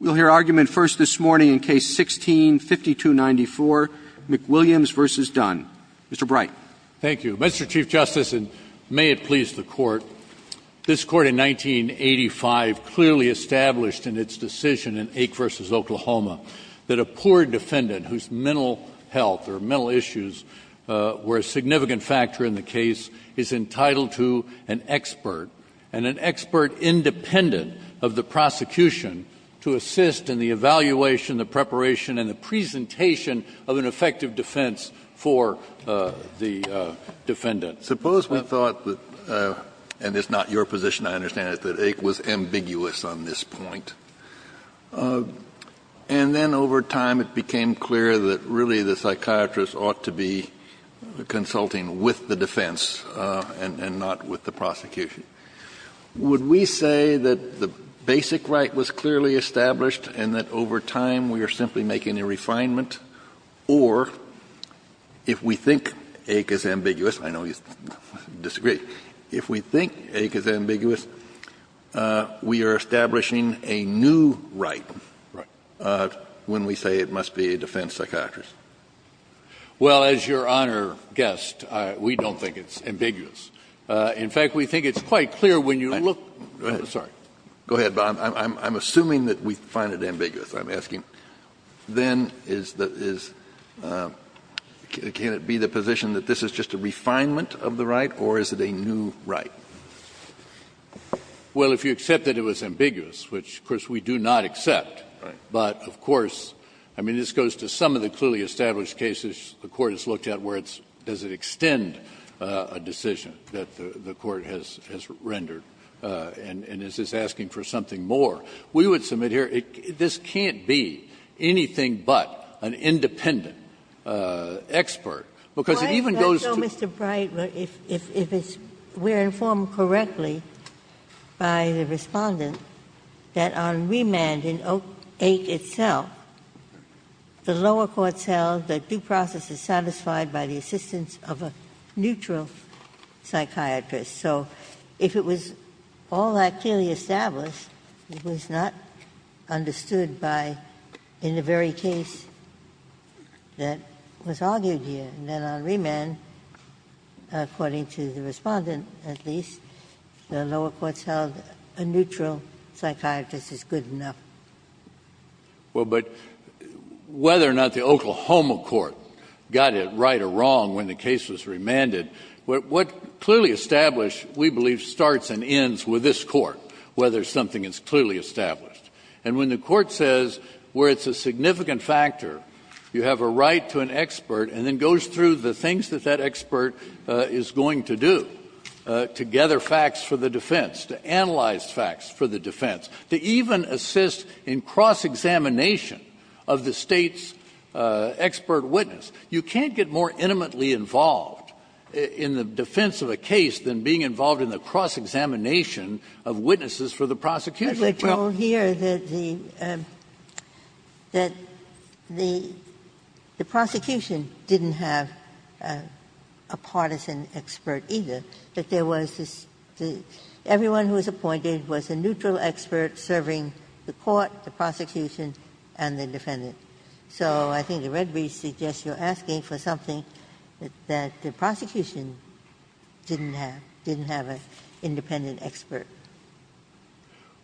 We'll hear argument first this morning in Case 16-5294, McWilliams v. Dunn. Mr. Bright. Thank you. Mr. Chief Justice, and may it please the Court, this Court in 1985 clearly established in its decision in Ake v. Oklahoma that a poor defendant whose mental health or mental issues were a significant factor in the case is entitled to an expert, and an expert independent of the prosecution, to assist in the evaluation, the preparation, and the presentation of an effective defense for the defendant. Suppose we thought that, and it's not your position, I understand it, that Ake was ambiguous on this point. And then over time it became clear that really the psychiatrist ought to be consulting with the defense and not with the prosecution. Would we say that the basic right was clearly established and that over time we are simply making a refinement, or if we think Ake is ambiguous, I know you disagree, if we think Ake is ambiguous, we are establishing a new right when we say it must be a defense psychiatrist? Well, as Your Honor guessed, we don't think it's ambiguous. In fact, we think it's quite clear when you look at it. I'm sorry. Go ahead, Bob. I'm assuming that we find it ambiguous, I'm asking. Then can it be the position that this is just a refinement of the right, or is it a new right? Well, if you accept that it was ambiguous, which, of course, we do not accept, but of course, I mean, this goes to some of the clearly established cases the Court has looked at where it's, does it extend a decision that the Court has rendered, and is this asking for something more? We would submit here this can't be anything but an independent expert, because it even goes to the court. Why is that so, Mr. Bright, if it's we're informed correctly by the Respondent that on remand in Oak 8 itself, the lower courts held that due process is satisfied by the assistance of a neutral psychiatrist? So if it was all that clearly established, it was not understood by in the very case that was argued here. And then on remand, according to the Respondent at least, the lower courts held a neutral psychiatrist is good enough. Well, but whether or not the Oklahoma court got it right or wrong when the case was established, we believe starts and ends with this Court, whether something is clearly established. And when the Court says where it's a significant factor, you have a right to an expert and then goes through the things that that expert is going to do, to gather facts for the defense, to analyze facts for the defense, to even assist in cross-examination of the State's expert witness, you can't get more intimately involved in the defense of a case than being involved in the cross-examination of witnesses for the prosecution. Well the prosecution didn't have a partisan expert either, but there was this, everyone who was appointed was a neutral expert serving the court, the prosecution, and the defendant. So I think the Red Bridge suggests you're asking for something that the prosecution didn't have, didn't have an independent expert.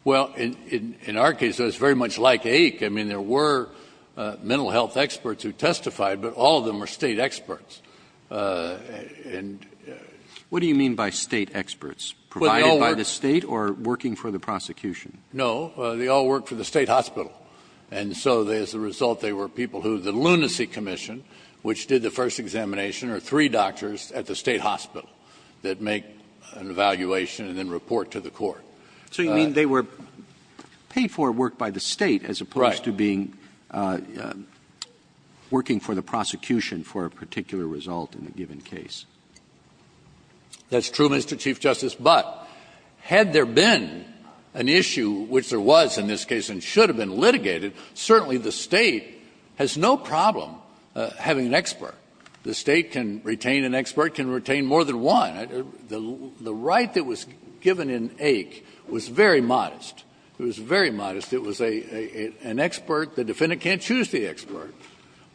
Well, in our case, it was very much like AIC. I mean, there were mental health experts who testified, but all of them were State experts. What do you mean by State experts? Provided by the State or working for the prosecution? No, they all worked for the State hospital. And so as a result, they were people who the Lunacy Commission, which did the first examination, are three doctors at the State hospital that make an evaluation and then report to the court. So you mean they were paid for work by the State as opposed to being working for the prosecution for a particular result in a given case? That's true, Mr. Chief Justice, but had there been an issue, which there was in this case and should have been litigated, certainly the State has no problem having an expert. The State can retain an expert, can retain more than one. The right that was given in AIC was very modest. It was very modest. It was an expert. The defendant can't choose the expert,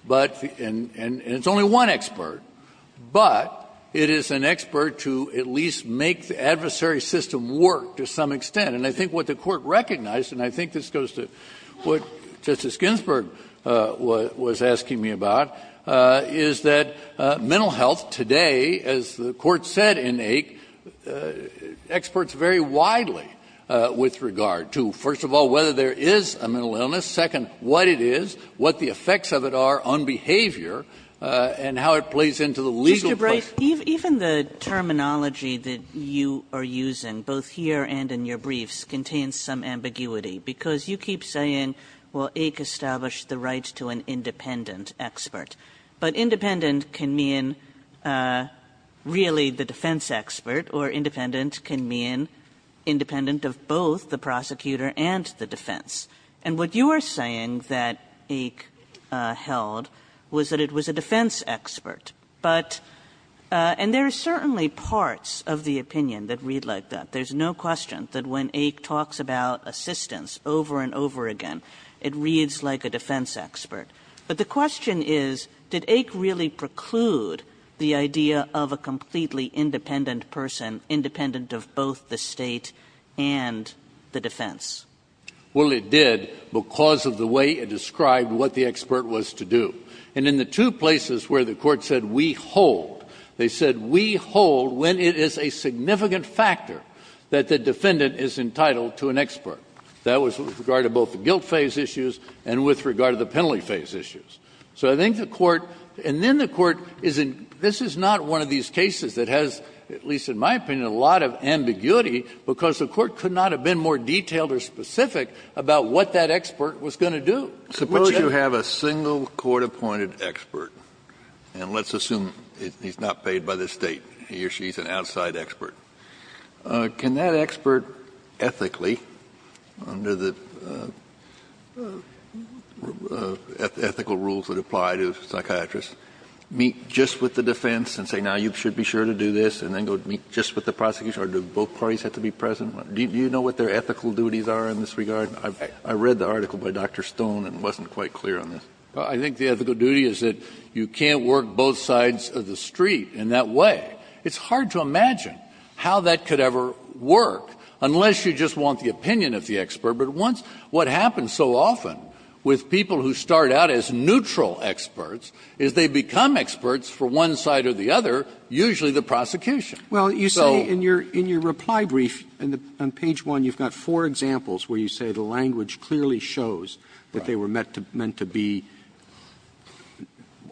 and it's only one expert. But it is an expert to at least make the adversary system work to some extent. And I think what the court recognized, and I think this goes to what Justice Ginsburg was asking me about, is that mental health today, as the court said in AIC, experts vary widely with regard to, first of all, whether there is a mental illness, second, what it is, what the effects of it are on behavior, and how it plays into the legal process. Kagan. But even the terminology that you are using, both here and in your briefs, contains some ambiguity. Because you keep saying, well, AIC established the rights to an independent expert, but independent can mean really the defense expert, or independent defense. And what you are saying that AIC held was that it was a defense expert. But, and there are certainly parts of the opinion that read like that. There's no question that when AIC talks about assistance over and over again, it reads like a defense expert. But the question is, did AIC really preclude the idea of a completely independent person, independent of both the state and the defense? Well, it did because of the way it described what the expert was to do. And in the two places where the Court said we hold, they said we hold when it is a significant factor that the defendant is entitled to an expert. That was with regard to both the guilt phase issues and with regard to the penalty phase issues. So I think the Court, and then the Court is in, this is not one of these cases that has, at least in my opinion, a lot of ambiguity because the Court could not have been more detailed or specific about what that expert was going to do. Kennedy Suppose you have a single court-appointed expert. And let's assume he's not paid by the State. He or she is an outside expert. Can that expert ethically, under the ethical rules that apply to psychiatrists, meet just with the defense and say, now you should be sure to do this, and then go meet just with the prosecution? Or do both parties have to be present? Do you know what their ethical duties are in this regard? I read the article by Dr. Stone and wasn't quite clear on this. Kennedy I think the ethical duty is that you can't work both sides of the street in that way. It's hard to imagine how that could ever work unless you just want the opinion of the expert. But once what happens so often with people who start out as neutral experts is they become experts for one side or the other, usually the prosecution. Roberts Well, you say in your reply brief, on page 1, you've got four examples where you say the language clearly shows that they were meant to be,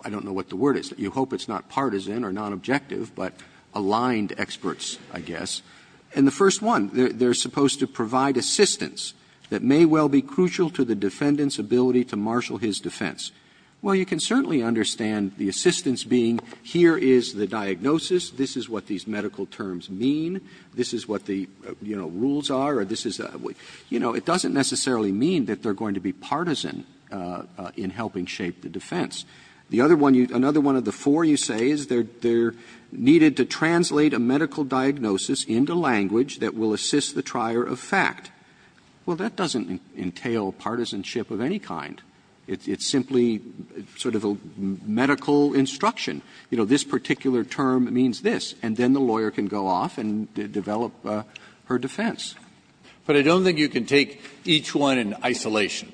I don't know what the word is, you hope it's not partisan or nonobjective, but aligned experts, I guess. And the first one, they're supposed to provide assistance that may well be crucial to the defendant's ability to marshal his defense. Well, you can certainly understand the assistance being, here is the diagnosis. This is what these medical terms mean. This is what the, you know, rules are, or this is a, you know, it doesn't necessarily mean that they're going to be partisan in helping shape the defense. The other one, another one of the four you say is they're needed to translate a medical diagnosis into language that will assist the trier of fact. Well, that doesn't entail partisanship of any kind. It's simply sort of a medical instruction. You know, this particular term means this, and then the lawyer can go off and develop her defense. But I don't think you can take each one in isolation.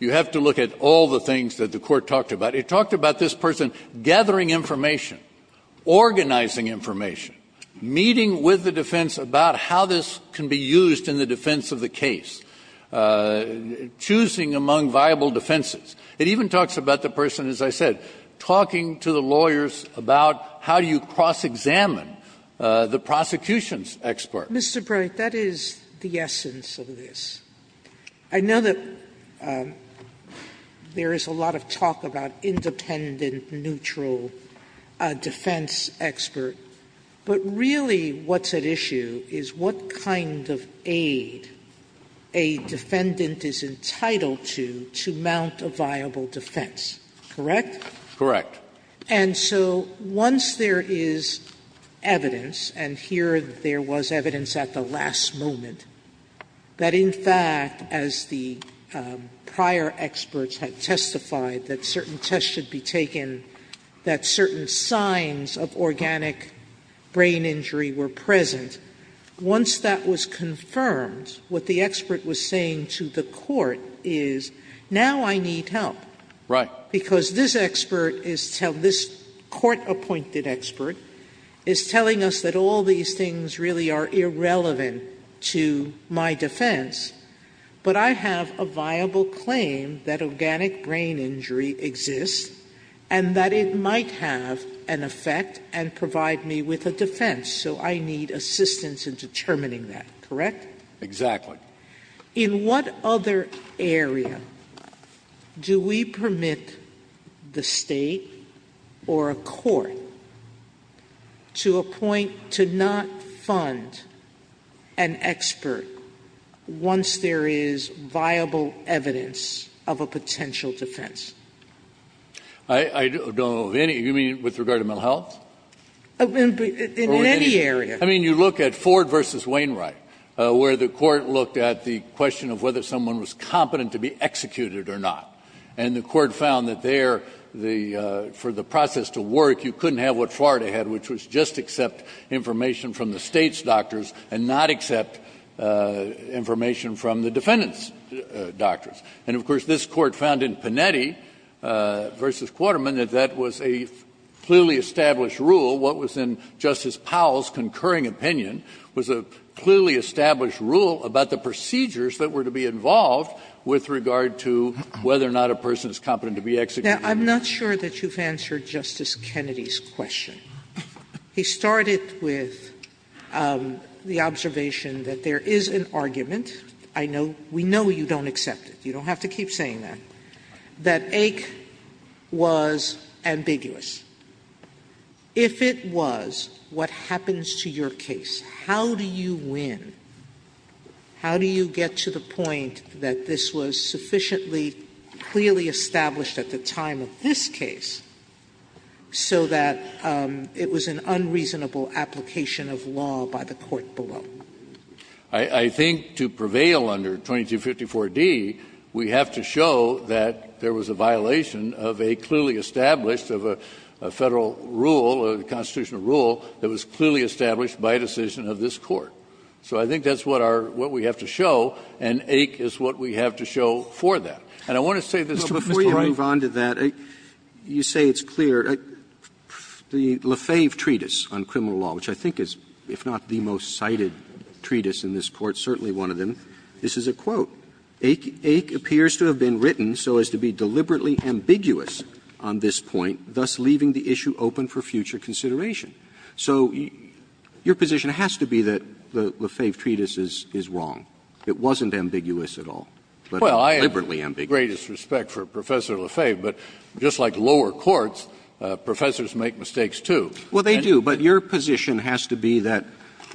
You have to look at all the things that the Court talked about. It talked about this person gathering information, organizing information, meeting with the defense about how this can be used in the defense of the case, choosing among viable defenses. It even talks about the person, as I said, talking to the lawyers about how do you cross-examine the prosecution's expert. Sotomayor, that is the essence of this. I know that there is a lot of talk about independent, neutral defense expert. But really what's at issue is what kind of aid a defendant is entitled to to mount a viable defense, correct? Correct. And so once there is evidence, and here there was evidence at the last moment, that in fact, as the prior experts had testified, that certain tests should be taken, that certain signs of organic brain injury were present, once that was confirmed, what the expert was saying to the Court is, now I need help. Right. Because this expert, this Court-appointed expert, is telling us that all these things really are irrelevant to my defense, but I have a viable claim that organic brain injury exists and that it might have an effect and provide me with a defense. So I need assistance in determining that, correct? Exactly. In what other area do we permit the State or a court to appoint, to not fund an expert once there is viable evidence of a potential defense? I don't know of any. You mean with regard to mental health? In any area. I mean, you look at Ford v. Wainwright, where the Court looked at the question of whether someone was competent to be executed or not, and the Court found that there, for the process to work, you couldn't have what Florida had, which was just accept information from the State's doctors and not accept information from the defendant's doctors. And, of course, this Court found in Panetti v. Quarterman that that was a clearly established rule, what was in Justice Powell's concurring opinion was a clearly established rule about the procedures that were to be involved with regard to whether or not a person is competent to be executed. Now, I'm not sure that you've answered Justice Kennedy's question. He started with the observation that there is an argument. I know we know you don't accept it. You don't have to keep saying that. That AIC was ambiguous. If it was, what happens to your case? How do you win? How do you get to the point that this was sufficiently clearly established at the time of this case so that it was an unreasonable application of law by the court below? I think to prevail under 2254d, we have to show that there was a violation of a clearly established, of a Federal rule, a constitutional rule that was clearly established by decision of this Court. So I think that's what our what we have to show, and AIC is what we have to show for that. And I want to say this before I move on to that, you say it's clear, the Lefebvre treatise on criminal law, which I think is, if not the most cited treatise in this Court, certainly one of them, this is a quote. AIC appears to have been written so as to be deliberately ambiguous on this point, thus leaving the issue open for future consideration. So your position has to be that the Lefebvre treatise is wrong. It wasn't ambiguous at all, but deliberately ambiguous. Kennedy, I have the greatest respect for Professor Lefebvre, but just like lower courts, professors make mistakes, too. Well, they do, but your position has to be that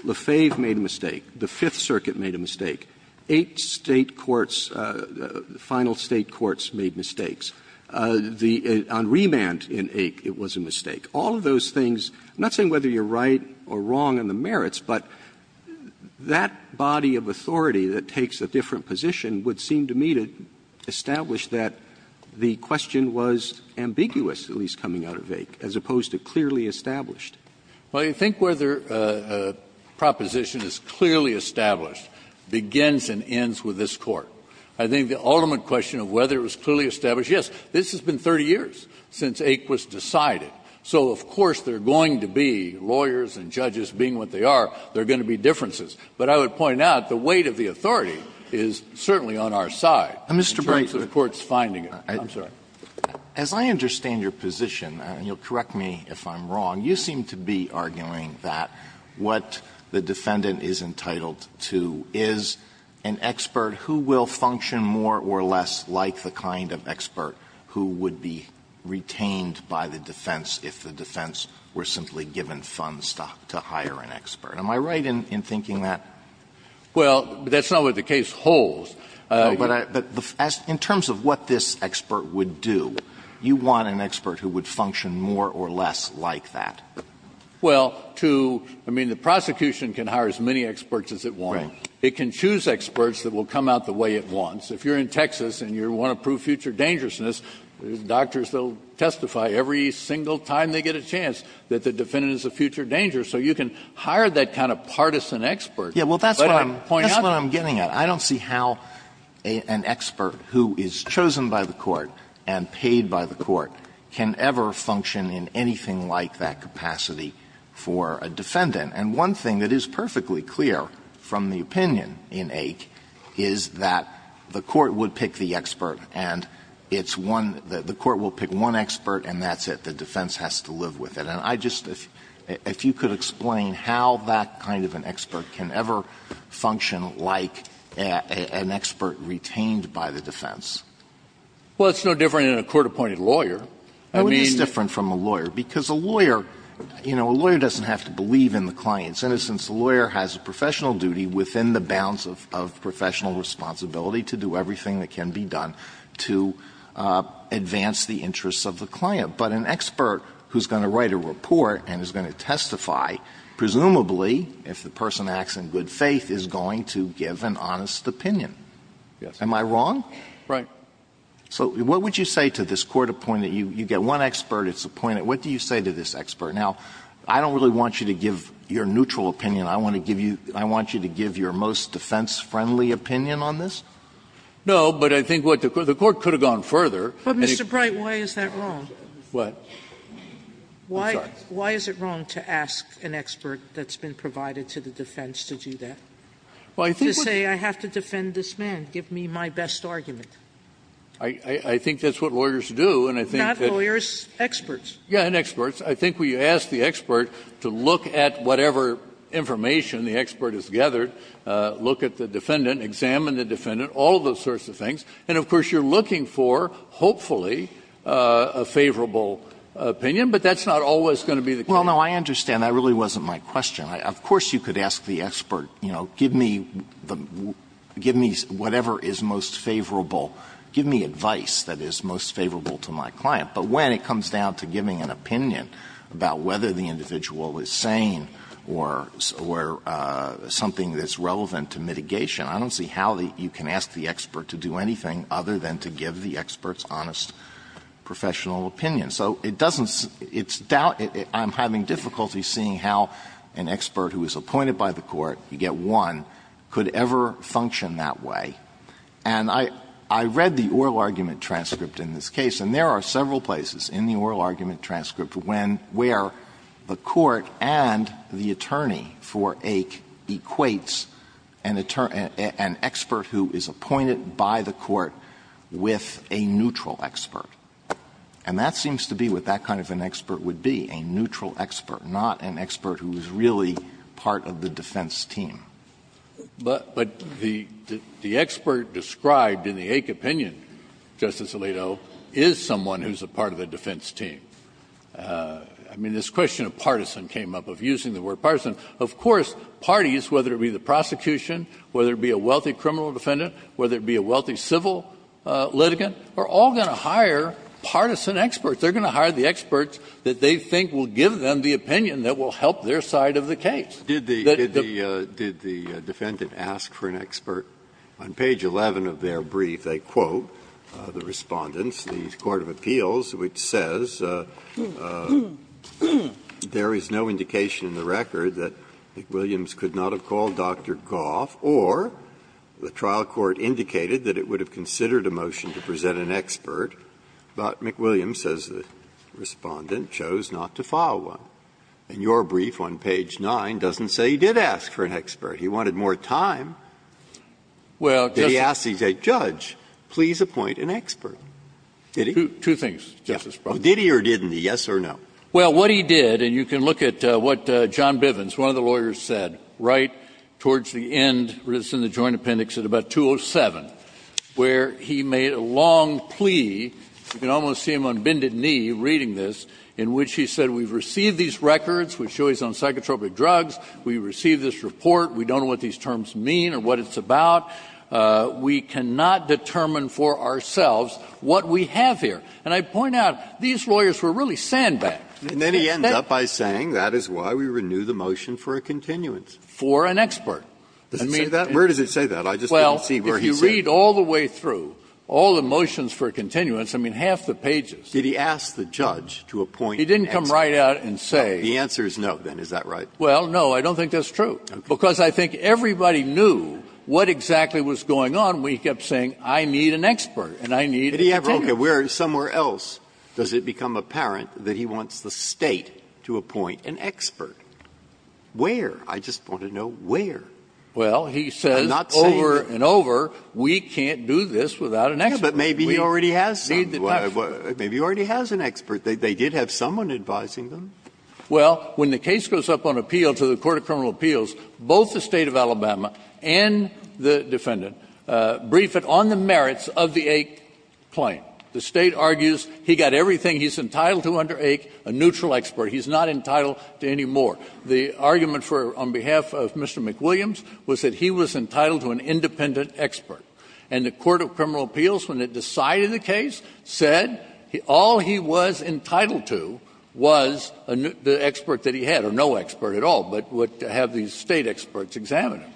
Lefebvre made a mistake, the Fifth Circuit made a mistake, eight State courts, final State courts made mistakes. The Re-Mand in AIC, it was a mistake. All of those things, I'm not saying whether you're right or wrong in the merits, but that body of authority that takes a different position would seem to me to establish that the question was ambiguous, at least coming out of AIC, as opposed to clearly established. Well, you think whether a proposition is clearly established begins and ends with this Court. I think the ultimate question of whether it was clearly established, yes, this has been 30 years since AIC was decided. So of course there are going to be, lawyers and judges being what they are, there are going to be differences. But I would point out the weight of the authority is certainly on our side in terms of courts finding it. I'm sorry. Alito, as I understand your position, and you'll correct me if I'm wrong, you seem to be arguing that what the defendant is entitled to is an expert who will function more or less like the kind of expert who would be retained by the defense if the defense were simply given funds to hire an expert. Am I right in thinking that? Well, that's not what the case holds. But in terms of what this expert would do, you want an expert who would function more or less like that. Well, to — I mean, the prosecution can hire as many experts as it wants. Right. It can choose experts that will come out the way it wants. If you're in Texas and you want to prove future dangerousness, doctors will testify every single time they get a chance that the defendant is a future danger. So you can hire that kind of partisan expert. Yeah, well, that's what I'm getting at. I don't see how an expert who is chosen by the court and paid by the court can ever function in anything like that capacity for a defendant. And one thing that is perfectly clear from the opinion in Ake is that the court would pick the expert and it's one — the court will pick one expert and that's it. The defense has to live with it. And I just — if you could explain how that kind of an expert can ever function like an expert retained by the defense. Well, it's no different than a court-appointed lawyer. I mean — No, it is different from a lawyer, because a lawyer — you know, a lawyer doesn't have to believe in the client's innocence. A lawyer has a professional duty within the bounds of professional responsibility to do everything that can be done to advance the interests of the client. But an expert who's going to write a report and is going to testify, presumably if the person acts in good faith, is going to give an honest opinion. Yes. Am I wrong? Right. So what would you say to this court-appointed — you get one expert, it's appointed. What do you say to this expert? Now, I don't really want you to give your neutral opinion. I want to give you — I want you to give your most defense-friendly opinion on this. No, but I think what the court — the court could have gone further. But, Mr. Bright, why is that wrong? What? I'm sorry. Why is it wrong to ask an expert that's been provided to the defense to do that? Well, I think — To say, I have to defend this man. Give me my best argument. I think that's what lawyers do, and I think that — Not lawyers. Experts. Yeah, and experts. I think we ask the expert to look at whatever information the expert has gathered, look at the defendant, examine the defendant, all of those sorts of things. And, of course, you're looking for, hopefully, a favorable opinion. But that's not always going to be the case. Well, no, I understand. That really wasn't my question. Of course you could ask the expert, you know, give me the — give me whatever is most favorable. Give me advice that is most favorable to my client. But when it comes down to giving an opinion about whether the individual is sane or something that's relevant to mitigation, I don't see how you can ask the expert to do anything other than to give the expert's honest professional opinion. So it doesn't — it's doubt — I'm having difficulty seeing how an expert who is appointed by the court, you get one, could ever function that way. And I — I read the oral argument transcript in this case, and there are several places in the oral argument transcript where the court and the attorney for Ake equates an expert who is appointed by the court with a neutral expert. And that seems to be what that kind of an expert would be, a neutral expert, not an expert who is really part of the defense team. But the expert described in the Ake opinion, Justice Alito, is someone who is a part of the defense team. I mean, this question of partisan came up, of using the word partisan. Of course, parties, whether it be the prosecution, whether it be a wealthy criminal defendant, whether it be a wealthy civil litigant, are all going to hire partisan experts. They're going to hire the experts that they think will give them the opinion that will help their side of the case. Did the — did the defendant ask for an expert? On page 11 of their brief, they quote the Respondents, the Court of Appeals, which says there is no indication in the record that McWilliams could not have called Dr. Goff or the trial court indicated that it would have considered a motion to present an expert, but McWilliams, says the Respondent, chose not to follow one. And your brief on page 9 doesn't say he did ask for an expert. He wanted more time. He asked, he said, Judge, please appoint an expert. Did he? Two things, Justice Breyer. Did he or didn't he, yes or no? Well, what he did, and you can look at what John Bivens, one of the lawyers, said. Right towards the end, it's in the Joint Appendix, at about 207, where he made a long plea, you can almost see him on bended knee reading this, in which he said, we've received these records which show he's on psychotropic drugs, we received this report, we don't know what these terms mean or what it's about, we cannot determine for ourselves what we have here. And I point out, these lawyers were really sandbagged. And then he ends up by saying, that is why we renew the motion for a continuance. For an expert. Doesn't say that? Where does it say that? I just didn't see where he said it. Well, if you read all the way through, all the motions for a continuance, I mean, half the pages. Did he ask the judge to appoint an expert? He didn't come right out and say. The answer is no, then, is that right? Well, no, I don't think that's true. an expert and I need a continuance. Where else does it become apparent that he wants the State to appoint an expert? Where? I just want to know where. Well, he says over and over, we can't do this without an expert. Maybe he already has some. Maybe he already has an expert. They did have someone advising them. Well, when the case goes up on appeal to the court of criminal appeals, both the State of Alabama and the defendant briefed on the merits of the AIC claim. The State argues he got everything he's entitled to under AIC, a neutral expert. He's not entitled to any more. The argument on behalf of Mr. McWilliams was that he was entitled to an independent expert. And the court of criminal appeals, when it decided the case, said all he was entitled to was the expert that he had, or no expert at all, but would have these State experts examine him.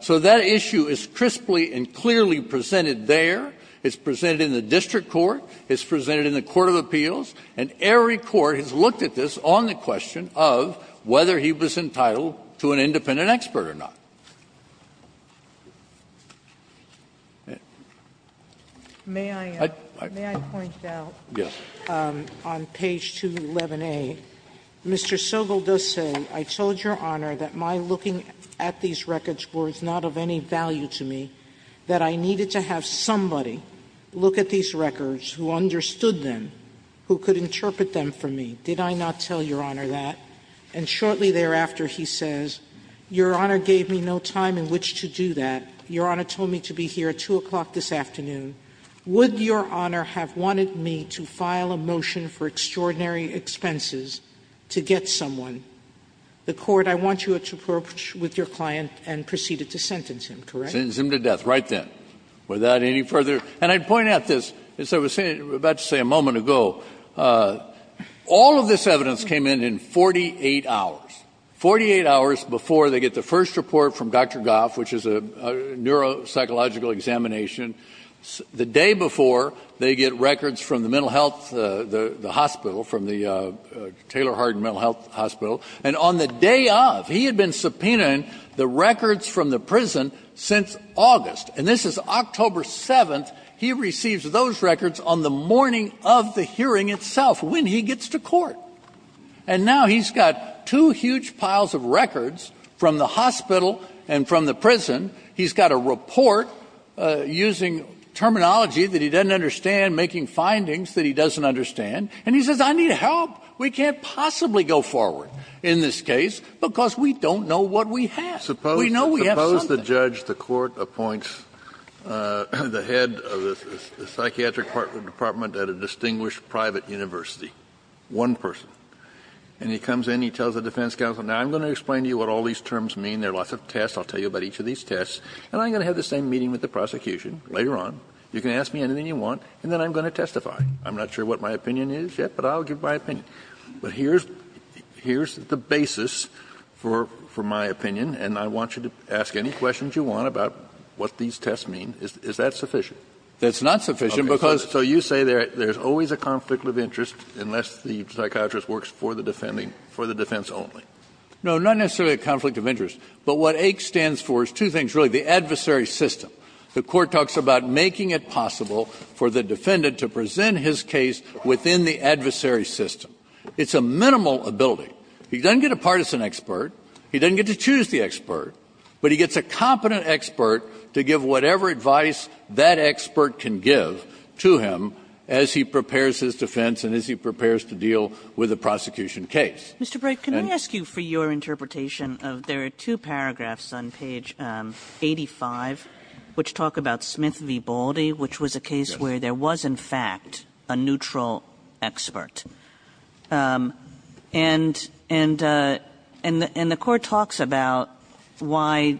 So that issue is crisply and clearly presented there. It's presented in the district court. It's presented in the court of appeals. And every court has looked at this on the question of whether he was entitled to an independent expert or not. May I point out on page 211A, Mr. Sobel does say, I told Your Honor that my looking at these records was not of any value to me, that I needed to have somebody look at these records who understood them, who could interpret them for me. Did I not tell Your Honor that? And shortly thereafter, he says, Your Honor gave me no time in which to do that. Your Honor told me to be here at 2 o'clock this afternoon. Would Your Honor have wanted me to file a motion for extraordinary expenses to get someone? The court, I want you to approach with your client and proceed to sentence him, correct? Sentence him to death, right then, without any further. And I'd point out this, as I was about to say a moment ago, all of this evidence came in in 48 hours, 48 hours before they get the first report from Dr. Goff, which is a neuropsychological examination, the day before they get records from the mental health hospital, from the Taylor Hardin Mental Health Hospital. And on the day of, he had been subpoenaing the records from the prison since August. And this is October 7th, he receives those records on the morning of the hearing itself, when he gets to court. And now he's got two huge piles of records from the hospital and from the prison. He's got a report using terminology that he doesn't understand, making findings that he doesn't understand. And he says, I need help. We can't possibly go forward in this case because we don't know what we have. We know we have something. Suppose the judge, the court appoints the head of the psychiatric department at a distinguished private university, one person. And he comes in, he tells the defense counsel, now, I'm going to explain to you what all these terms mean. There are lots of tests. I'll tell you about each of these tests. And I'm going to have the same meeting with the prosecution later on. You can ask me anything you want, and then I'm going to testify. I'm not sure what my opinion is yet, but I'll give my opinion. But here's the basis for my opinion, and I want you to ask any questions you want about what these tests mean. Is that sufficient? That's not sufficient because So you say there's always a conflict of interest unless the psychiatrist works for the defending, for the defense only. No, not necessarily a conflict of interest. But what AICS stands for is two things, really. The adversary system. The court talks about making it possible for the defendant to present his case within the adversary system. It's a minimal ability. He doesn't get a partisan expert. He doesn't get to choose the expert. But he gets a competent expert to give whatever advice that expert can give to him as he prepares his defense and as he prepares to deal with a prosecution case. Mr. Bright, can I ask you for your interpretation of the two paragraphs on page 85, which talk about Smith v. Baldy, which was a case where there was, in fact, a neutral expert. And the court talks about why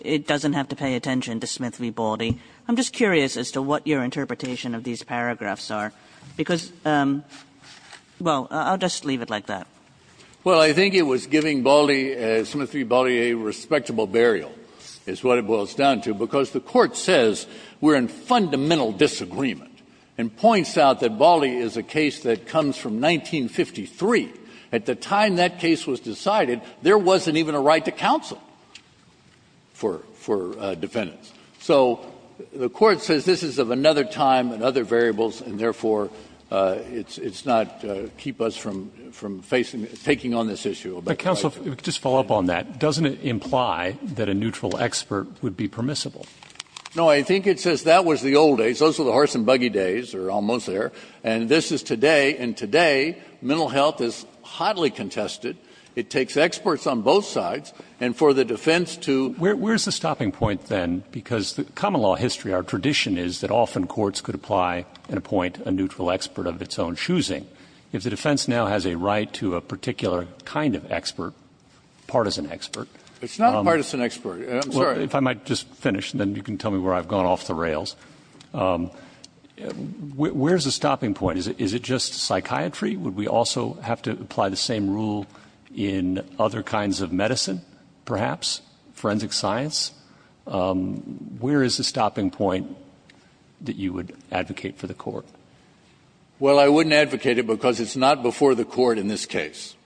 it doesn't have to pay attention to Smith v. Baldy. I'm just curious as to what your interpretation of these paragraphs are, because well, I'll just leave it like that. Well, I think it was giving Baldy, Smith v. Baldy, a respectable burial is what it boils down to, because the court says we're in fundamental disagreement and points out that Baldy is a case that comes from 1953. At the time that case was decided, there wasn't even a right to counsel for defendants. So the court says this is of another time and other variables, and therefore, it's not to keep us from facing, taking on this issue. But counsel, just to follow up on that, doesn't it imply that a neutral expert would be permissible? No. I think it says that was the old days. Those were the horse-and-buggy days, or almost there, and this is today. And today, mental health is hotly contested. It takes experts on both sides, and for the defense to ---- Where is the stopping point, then, because the common law history, our tradition is that often courts could apply and appoint a neutral expert of its own choosing. If the defense now has a right to a particular kind of expert, partisan expert ---- It's not a partisan expert. I'm sorry. If I might just finish, then you can tell me where I've gone off the rails. Where is the stopping point? Is it just psychiatry? Would we also have to apply the same rule in other kinds of medicine, perhaps, forensic science? Where is the stopping point that you would advocate for the court? Well, I wouldn't advocate it because it's not before the court in this case.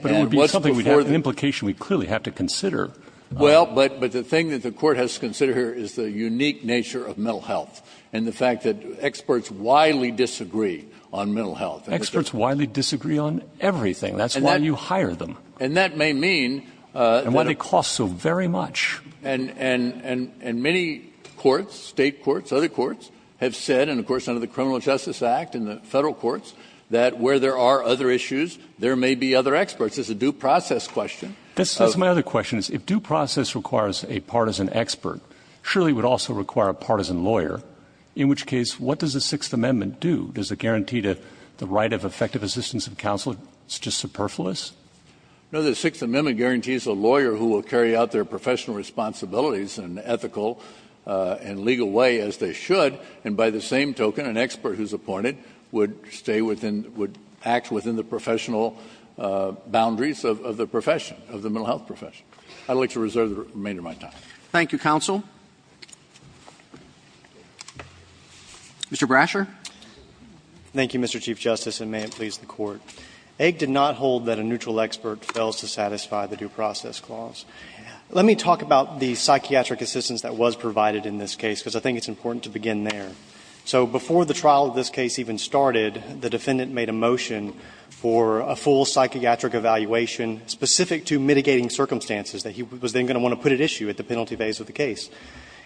And what's before the court? But it would be something we'd have an implication we clearly have to consider. Well, but the thing that the court has to consider here is the unique nature of mental health and the fact that experts widely disagree on mental health. Experts widely disagree on everything. That's why you hire them. And that may mean that ---- And why they cost so very much. And many courts, state courts, other courts, have said, and of course under the Criminal Justice Act and the federal courts, that where there are other issues, there may be other experts. It's a due process question. That's my other question, is if due process requires a partisan expert, surely it would also require a partisan lawyer. In which case, what does the Sixth Amendment do? Does it guarantee the right of effective assistance of counsel? It's just superfluous? No, the Sixth Amendment guarantees a lawyer who will carry out their professional responsibilities in an ethical and legal way, as they should. And by the same token, an expert who's appointed would stay within, would act within the professional boundaries of the profession, of the mental health profession. I'd like to reserve the remainder of my time. Thank you, counsel. Mr. Brasher. Brasher, thank you, Mr. Chief Justice, and may it please the Court. AIG did not hold that a neutral expert fails to satisfy the due process clause. Let me talk about the psychiatric assistance that was provided in this case, because I think it's important to begin there. So before the trial of this case even started, the defendant made a motion for a full psychiatric evaluation specific to mitigating circumstances that he was then going to put at issue at the penalty phase of the case.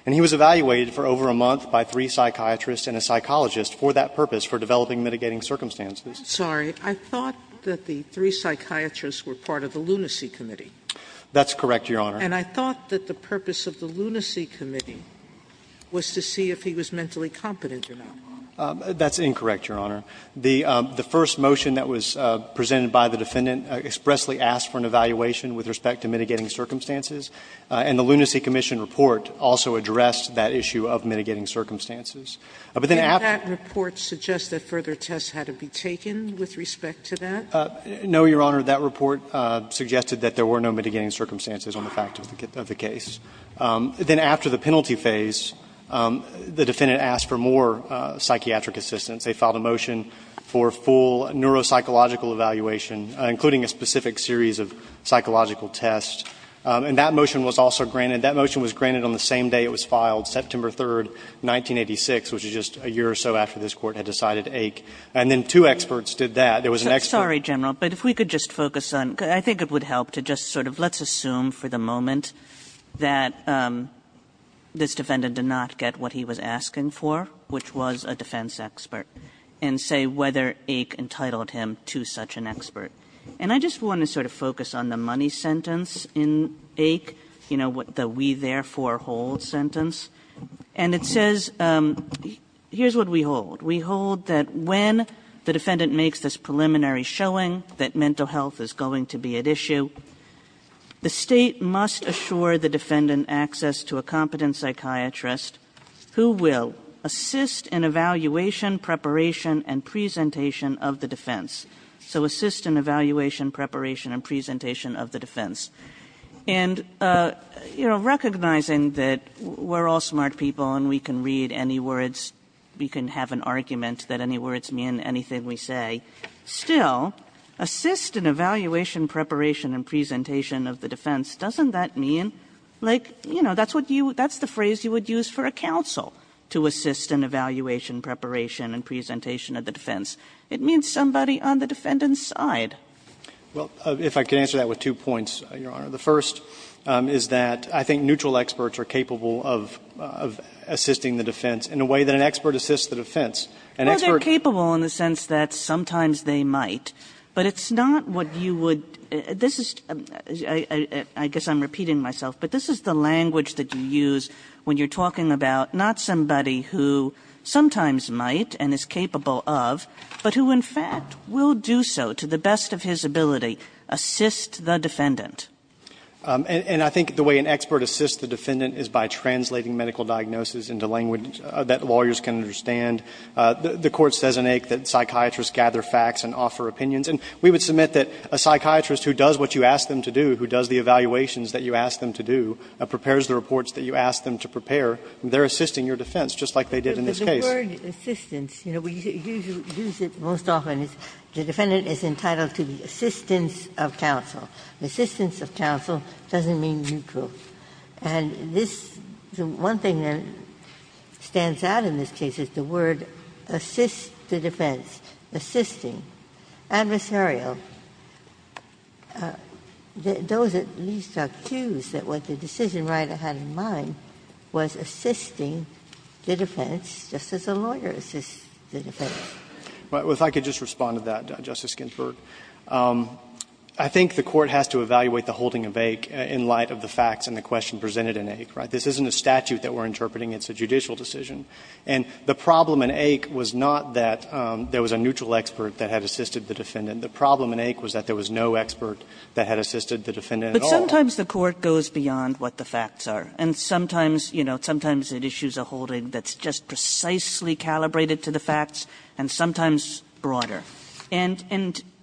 And he was evaluated for over a month by three psychiatrists and a psychologist for that purpose, for developing mitigating circumstances. Sotomayor, I'm sorry. I thought that the three psychiatrists were part of the lunacy committee. That's correct, Your Honor. And I thought that the purpose of the lunacy committee was to see if he was mentally competent or not. That's incorrect, Your Honor. The first motion that was presented by the defendant expressly asked for an evaluation with respect to mitigating circumstances, and the lunacy commission report also addressed that issue of mitigating circumstances. But then after that report suggested further tests had to be taken with respect to that? No, Your Honor. That report suggested that there were no mitigating circumstances on the fact of the case. Then after the penalty phase, the defendant asked for more psychiatric assistance. They filed a motion for full neuropsychological evaluation, including a specific series of psychological tests. And that motion was also granted. That motion was granted on the same day it was filed, September 3, 1986, which is just a year or so after this Court had decided Aik. And then two experts did that. There was an expert. Sorry, General, but if we could just focus on – I think it would help to just sort of let's assume for the moment that this defendant did not get what he was asking for, which was a defense expert, and say whether Aik entitled him to such an expert. And I just want to sort of focus on the money sentence in Aik, you know, the we therefore hold sentence. And it says – here's what we hold. We hold that when the defendant makes this preliminary showing that mental health is going to be at issue, the state must assure the defendant access to a competent psychiatrist who will assist in evaluation, preparation, and presentation of the defense. So assist in evaluation, preparation, and presentation of the defense. And, you know, recognizing that we're all smart people and we can read any words, we can have an argument that any words mean anything we say, still, assist in evaluation, preparation, and presentation of the defense, doesn't that mean – like, you know, that's what you – that's the phrase you would use for a counsel, to assist in evaluation, preparation, and presentation of the defense. It means somebody on the defendant's side. Well, if I could answer that with two points, Your Honor. The first is that I think neutral experts are capable of assisting the defense in a way that an expert assists the defense. Well, they're capable in the sense that sometimes they might, but it's not what you would – this is – I guess I'm repeating myself, but this is the language that you use when you're talking about not somebody who sometimes might and is capable of, but who in fact will do so to the best of his ability, assist the defendant. And I think the way an expert assists the defendant is by translating medical diagnosis into language that lawyers can understand. The Court says in AIC that psychiatrists gather facts and offer opinions. And we would submit that a psychiatrist who does what you ask them to do, who does the evaluations that you ask them to do, prepares the reports that you ask them to prepare, they're assisting your defense just like they did in this case. The word assistance, you know, we usually use it most often is the defendant is entitled to the assistance of counsel. Assistance of counsel doesn't mean neutral. And this – the one thing that stands out in this case is the word assist the defense, assisting, adversarial. Those at least are accused that what the decision writer had in mind was assisting the defense, just as a lawyer assists the defense. Well, if I could just respond to that, Justice Ginsburg. I think the Court has to evaluate the holding of AIC in light of the facts and the question presented in AIC, right? This isn't a statute that we're interpreting. It's a judicial decision. And the problem in AIC was not that there was a neutral expert that had assisted the defendant. The problem in AIC was that there was no expert that had assisted the defendant at all. But sometimes the Court goes beyond what the facts are. And sometimes, you know, sometimes it issues a holding that's just precisely calibrated to the facts and sometimes broader. And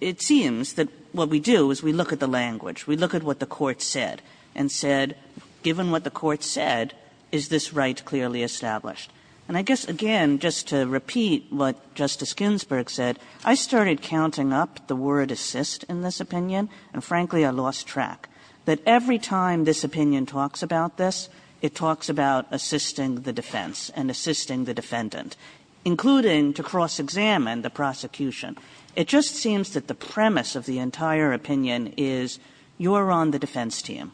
it seems that what we do is we look at the language. We look at what the Court said and said, given what the Court said, is this right clearly established? And I guess, again, just to repeat what Justice Ginsburg said, I started counting up the word assist in this opinion. And frankly, I lost track. But every time this opinion talks about this, it talks about assisting the defense and assisting the defendant, including to cross-examine the prosecution. It just seems that the premise of the entire opinion is you're on the defense team.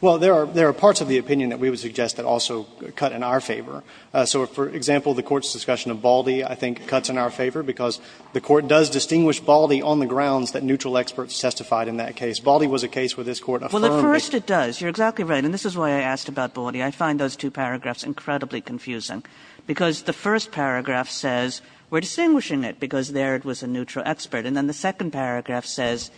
Well, there are parts of the opinion that we would suggest that also cut in our favor. So, for example, the Court's discussion of Baldy, I think, cuts in our favor because the Court does distinguish Baldy on the grounds that neutral experts testified in that case. Baldy was a case where this Court affirmed it. Well, at first it does. You're exactly right. And this is why I asked about Baldy. I find those two paragraphs incredibly confusing, because the first paragraph says we're distinguishing it because there it was a neutral expert. And then the second paragraph says,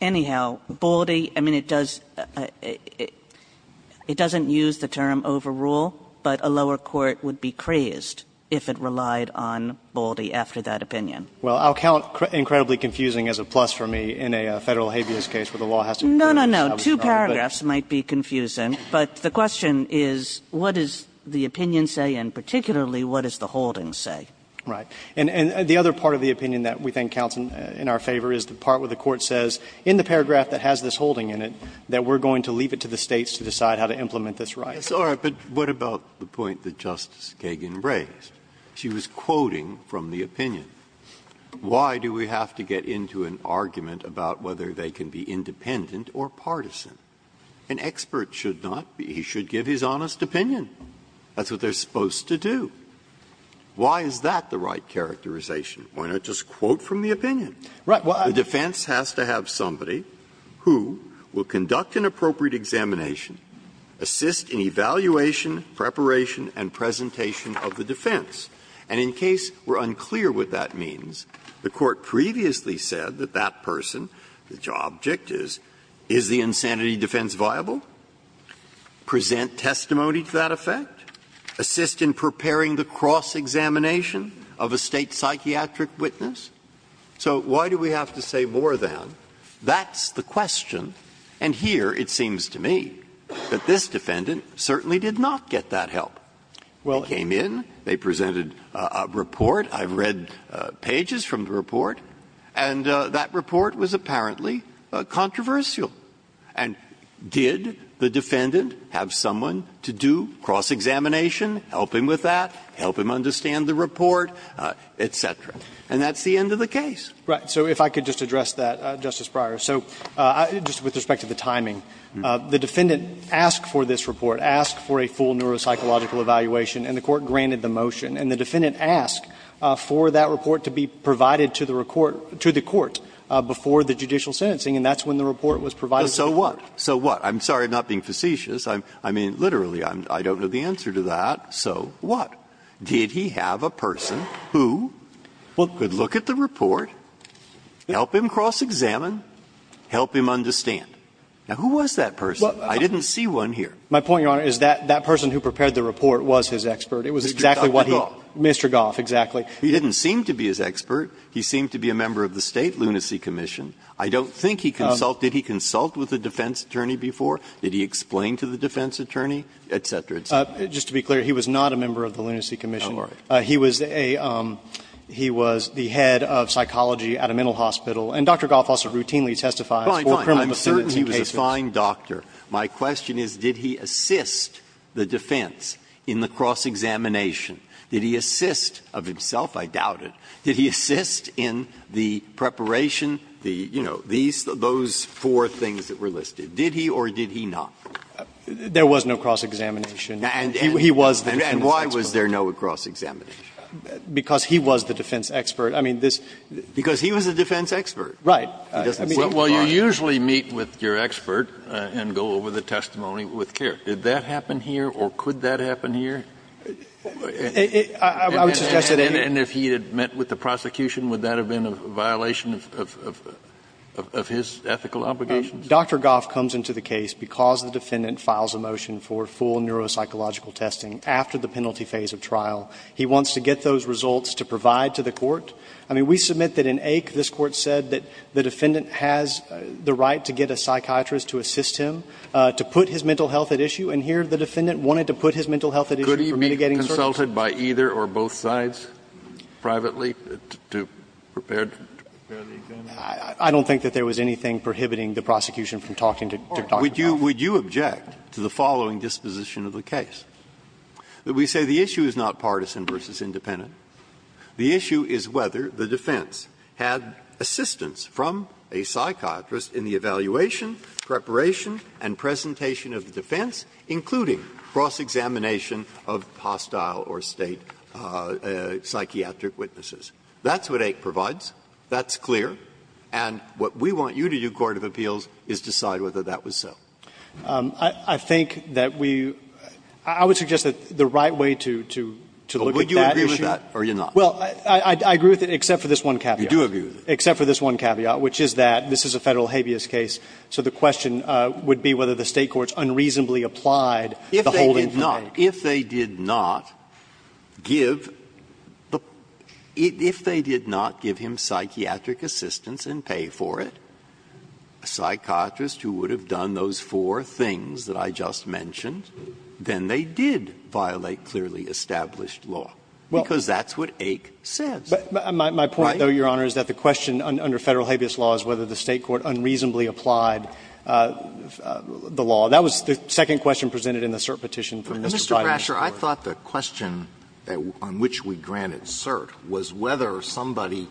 anyhow, Baldy, I mean, it does – it doesn't use the term overrule, but a lower court would be crazed if it relied on Baldy after that opinion. Well, I'll count incredibly confusing as a plus for me in a Federal habeas case where the law has to be crazed. No, no, no. Two paragraphs might be confusing, but the question is, what does the opinion say, and particularly, what does the holding say? Right. And the other part of the opinion that we think counts in our favor is the part where the Court says, in the paragraph that has this holding in it, that we're going to leave it to the States to decide how to implement this right. But what about the point that Justice Kagan raised? She was quoting from the opinion. Why do we have to get into an argument about whether they can be independent or partisan? An expert should not be – he should give his honest opinion. That's what they're supposed to do. Why is that the right characterization? Why not just quote from the opinion? The defense has to have somebody who will conduct an appropriate examination, assist in evaluation, preparation, and presentation of the defense. And in case we're unclear what that means, the Court previously said that that person, the object is, is the insanity defense viable, present testimony to that effect, assist in preparing the cross-examination of a State psychiatric witness. So why do we have to say more than, that's the question, and here it seems to me that this defendant certainly did not get that help. They came in, they presented a report, I've read pages from the report, and that report was apparently controversial. And did the defendant have someone to do cross-examination, help him with that, help him understand the report, et cetera? And that's the end of the case. Right. So if I could just address that, Justice Breyer. So just with respect to the timing, the defendant asked for this report, asked for a full neuropsychological evaluation, and the Court granted the motion. And the defendant asked for that report to be provided to the report, to the Court before the judicial sentencing, and that's when the report was provided. So what? I'm sorry, I'm not being facetious. I mean, literally, I don't know the answer to that, so what? Did he have a person who could look at the report, help him cross-examine, help him understand? Now, who was that person? I didn't see one here. My point, Your Honor, is that that person who prepared the report was his expert. It was exactly what he Mr. Goff, exactly. He didn't seem to be his expert. He seemed to be a member of the State Lunacy Commission. I don't think he consulted. Did he consult with a defense attorney before? Did he explain to the defense attorney, et cetera, et cetera? Just to be clear, he was not a member of the Lunacy Commission. He was a he was the head of psychology at a mental hospital. And Dr. Goff also routinely testifies for criminal condescension cases. I'm certain he was a fine doctor. My question is, did he assist the defense in the cross-examination? Did he assist, of himself, I doubt it, did he assist in the preparation, the, you know, these, those four things that were listed? Did he or did he not? There was no cross-examination. He was the defense expert. And why was there no cross-examination? Because he was the defense expert. I mean, this. Because he was the defense expert. Right. Well, you usually meet with your expert and go over the testimony with care. Did that happen here or could that happen here? And if he had met with the prosecution, would that have been a violation of his ethical obligations? Dr. Goff comes into the case because the defendant files a motion for full neuropsychological testing after the penalty phase of trial. He wants to get those results to provide to the court. I mean, we submit that in Ake this Court said that the defendant has the right to get a psychiatrist to assist him, to put his mental health at issue, and here the defendant wanted to put his mental health at issue for mitigating surgery. Could he be consulted by either or both sides privately to prepare the examination? I don't think that there was anything prohibiting the prosecution from talking to Dr. Goff. Would you object to the following disposition of the case? That we say the issue is not partisan versus independent. The issue is whether the defense had assistance from a psychiatrist in the evaluation, preparation, and presentation of the defense, including cross-examination of hostile or State psychiatric witnesses. That's what Ake provides. That's clear. And what we want you to do, court of appeals, is decide whether that was so. I think that we – I would suggest that the right way to look at that issue is to decide whether the State courts unreasonably applied the holding for Ake. Breyer, if they did not, if they did not give the – if they did not give him psychiatric assistance and pay for it, a psychiatrist who would have done those four things that I just mentioned, then they did violate clearly established law. Because that's what Ake says. My point, though, Your Honor, is that the question under Federal habeas law is whether the State court unreasonably applied the law. That was the second question presented in the cert petition from Mr. Bridenstine. Mr. Brasher, I thought the question on which we granted cert was whether somebody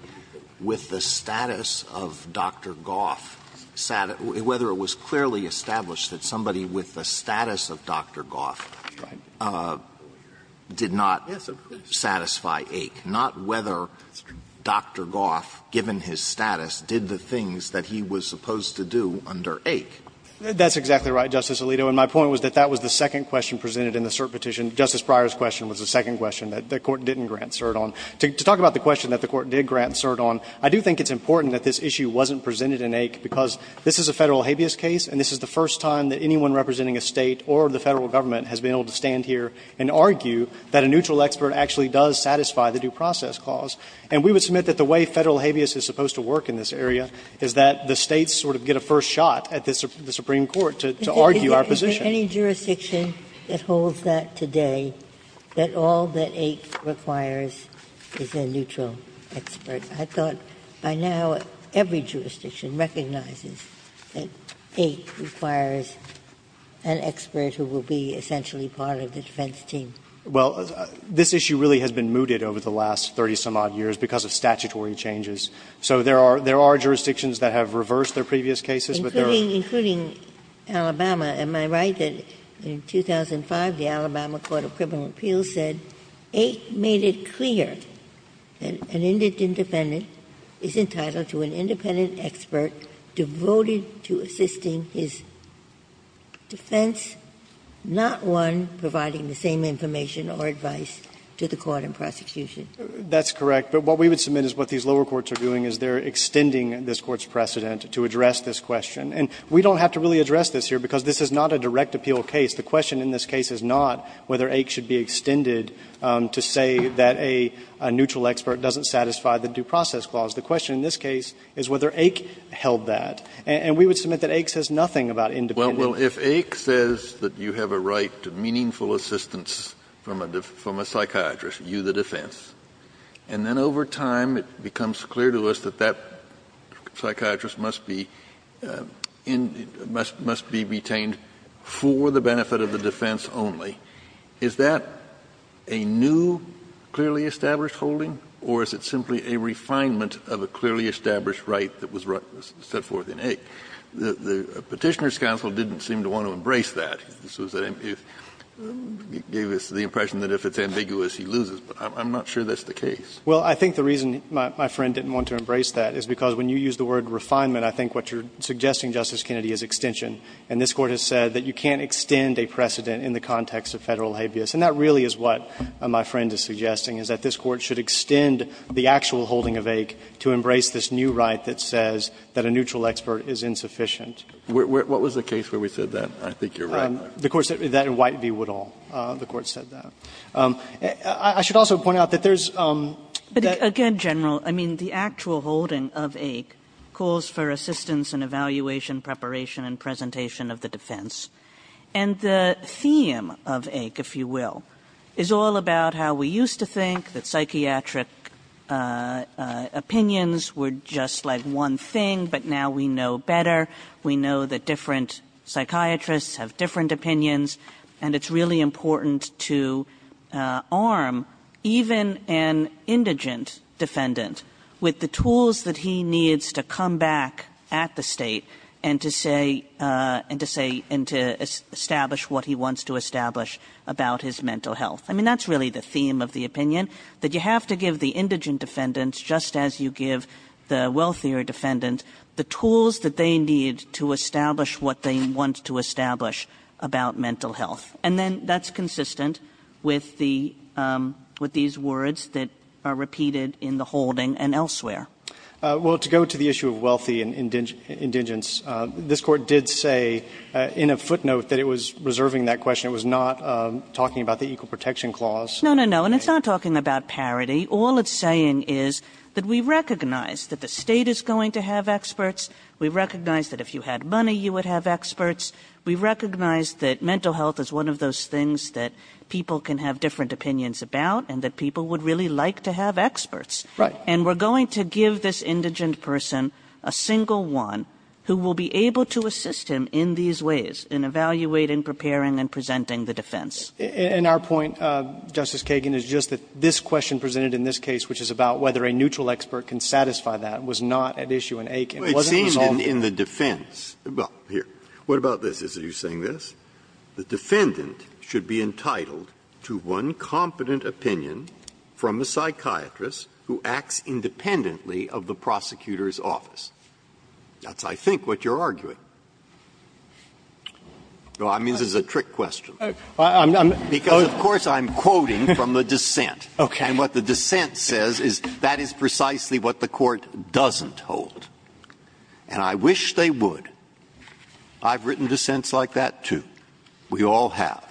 with the status of Dr. Goff sat at – whether it was clearly established that somebody with the status of Dr. Goff did not. Yes, of course. Satisfy Ake, not whether Dr. Goff, given his status, did the things that he was supposed to do under Ake. That's exactly right, Justice Alito. And my point was that that was the second question presented in the cert petition. Justice Breyer's question was the second question that the Court didn't grant cert on. To talk about the question that the Court did grant cert on, I do think it's important that this issue wasn't presented in Ake, because this is a Federal habeas case and this is the first time that anyone representing a State or the Federal government has been able to stand here and argue that a neutral expert actually does satisfy the due process clause. And we would submit that the way Federal habeas is supposed to work in this area is that the States sort of get a first shot at the Supreme Court to argue our position. Ginsburg, is there any jurisdiction that holds that today, that all that Ake requires is a neutral expert? I thought by now every jurisdiction recognizes that Ake requires an expert who will be essentially part of the defense team. Well, this issue really has been mooted over the last 30-some-odd years because of statutory changes. So there are – there are jurisdictions that have reversed their previous cases, but there are not. Including – including Alabama. Am I right that in 2005 the Alabama Court of Criminal Appeals said Ake made it clear that an independent is entitled to an independent expert devoted to assisting his defense, not one providing the same information or advice to the court in prosecution? That's correct. But what we would submit is what these lower courts are doing is they're extending this Court's precedent to address this question. And we don't have to really address this here because this is not a direct appeal case. The question in this case is not whether Ake should be extended to say that a neutral expert doesn't satisfy the due process clause. The question in this case is whether Ake held that. And we would submit that Ake says nothing about independent. Kennedy, if Ake says that you have a right to meaningful assistance from a psychiatrist, you the defense, and then over time it becomes clear to us that that psychiatrist must be in – must be retained for the benefit of the defense only, is that a new, clearly established holding, or is it simply a refinement of a clearly established right that was set forth in Ake? The Petitioner's counsel didn't seem to want to embrace that. It gave us the impression that if it's ambiguous, he loses. But I'm not sure that's the case. Well, I think the reason my friend didn't want to embrace that is because when you use the word refinement, I think what you're suggesting, Justice Kennedy, is extension. And this Court has said that you can't extend a precedent in the context of Federal habeas. And that really is what my friend is suggesting, is that this Court should extend the actual holding of Ake to embrace this new right that says that a neutral expert is insufficient. What was the case where we said that? I think you're right. The court said that in White v. Woodall. The court said that. I should also point out that there's that the actual holding of Ake calls for assistance and evaluation, preparation and presentation of the defense. And the theme of Ake, if you will, is all about how we used to think that psychiatric opinions were just like one thing, but now we know better. We know that different psychiatrists have different opinions. And it's really important to arm even an indigent defendant with the tools that he needs to establish what he wants to establish about his mental health. I mean, that's really the theme of the opinion, that you have to give the indigent defendants, just as you give the wealthier defendant, the tools that they need to establish what they want to establish about mental health. And then that's consistent with the – with these words that are repeated in the holding and elsewhere. Well, to go to the issue of wealthy and indigents, this court did say in a footnote that it was reserving that question. It was not talking about the Equal Protection Clause. No, no, no. And it's not talking about parity. All it's saying is that we recognize that the state is going to have experts. We recognize that if you had money, you would have experts. We recognize that mental health is one of those things that people can have different opinions about and that people would really like to have experts. And we're going to give this indigent person a single one who will be able to assist him in these ways, in evaluating, preparing, and presenting the defense. And our point, Justice Kagan, is just that this question presented in this case, which is about whether a neutral expert can satisfy that, was not at issue in Aiken. It wasn't resolved in Aiken. It seemed in the defense – well, here, what about this? Are you saying this? The defendant should be entitled to one competent opinion from a psychiatrist who acts independently of the prosecutor's office. That's, I think, what you're arguing. I mean, this is a trick question. Because, of course, I'm quoting from the dissent. And what the dissent says is that is precisely what the Court doesn't hold. And I wish they would. I've written dissents like that, too. We all have.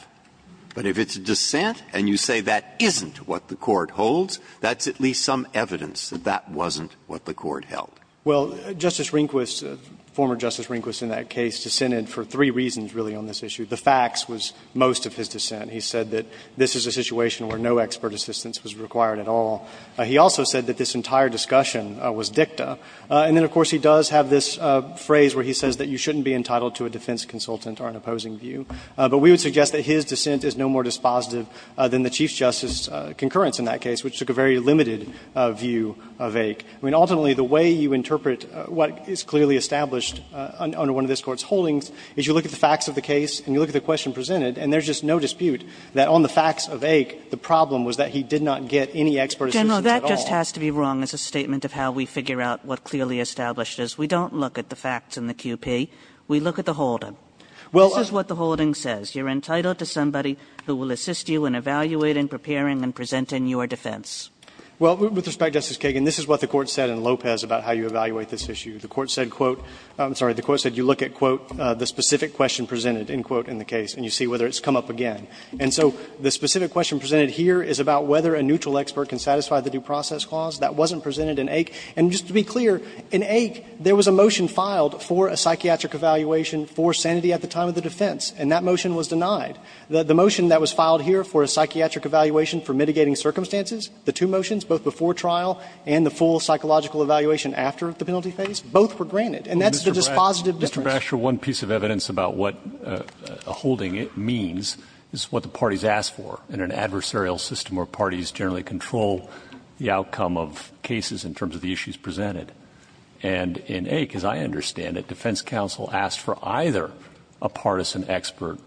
But if it's a dissent and you say that isn't what the Court holds, that's at least some evidence that that wasn't what the Court held. Well, Justice Rehnquist, former Justice Rehnquist in that case, dissented for three reasons, really, on this issue. The facts was most of his dissent. He said that this is a situation where no expert assistance was required at all. He also said that this entire discussion was dicta. And then, of course, he does have this phrase where he says that you shouldn't be entitled to a defense consultant or an opposing view. But we would suggest that his dissent is no more dispositive than the Chief Justice's concurrence in that case, which took a very limited view of Aik. I mean, ultimately, the way you interpret what is clearly established under one of this Court's holdings is you look at the facts of the case and you look at the question presented, and there's just no dispute that on the facts of Aik, the problem was that he did not get any expert assistance at all. Kagan. Kagan. Kagan. Kagan. Kagan. Kagan. Kagan. Kagan. Kagan. Kagan. We look at the holding. This is what the holding says. You're entitled to somebody who will assist you in evaluating, preparing, and presenting your defense. Well, with respect, Justice Kagan, this is what the Court said in Lopez about how you evaluate this issue. The Court said, quote – I'm sorry. The Court said you look at, quote, the specific question presented, end quote, in the case, and you see whether it's come up again. And so the specific question presented here is about whether a neutral expert can satisfy the due process clause. That wasn't presented in Aik. Mr. Basher, one piece of evidence about what a holding means is what the parties ask for in an adversarial system where parties generally control the outcome of cases in terms of the issues presented. And in Aik, as I understand it, defense counsel asks for the full psychological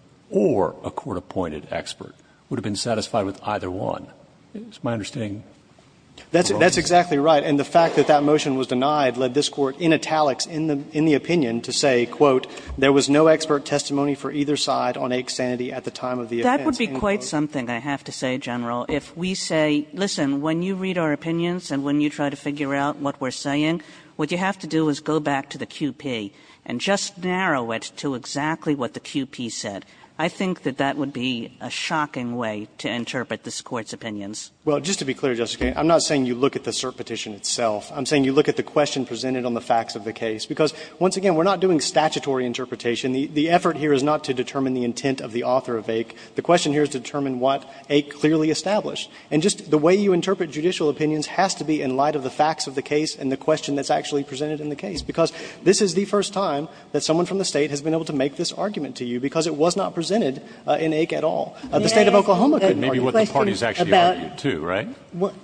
That's exactly right. And the fact that that motion was denied led this Court, in italics, in the opinion, to say, quote, there was no expert testimony for either side on Aik's sanity at the time of the offense, end quote. That would be quite something, I have to say, General. If we say, listen, when you read our opinions and when you try to figure out what we're saying, what you have to do is go back to the QP and just narrow it down to exactly what the QP said. I think that that would be a shocking way to interpret this Court's opinions. Well, just to be clear, Justice Kagan, I'm not saying you look at the cert petition itself. I'm saying you look at the question presented on the facts of the case. Because, once again, we're not doing statutory interpretation. The effort here is not to determine the intent of the author of Aik. The question here is to determine what Aik clearly established. And just the way you interpret judicial opinions has to be in light of the facts of the case and the question that's actually presented in the case. Because this is the first time that someone from the State has been able to make this argument to you, because it was not presented in Aik at all. The State of Oklahoma could argue that. Kennedy, maybe what the parties actually argued, too, right?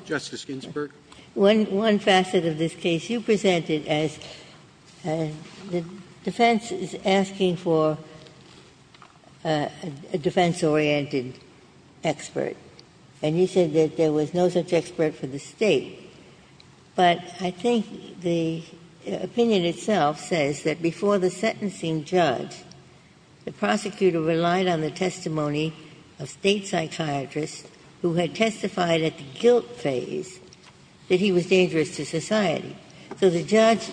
Justice Ginsburg. Ginsburg, one facet of this case, you presented as the defense is asking for a defense-oriented expert, and you said that there was no such expert for the State. But I think the opinion itself says that before the sentencing judge, the prosecutor relied on the testimony of State psychiatrists who had testified at the guilt phase that he was dangerous to society. So the judge,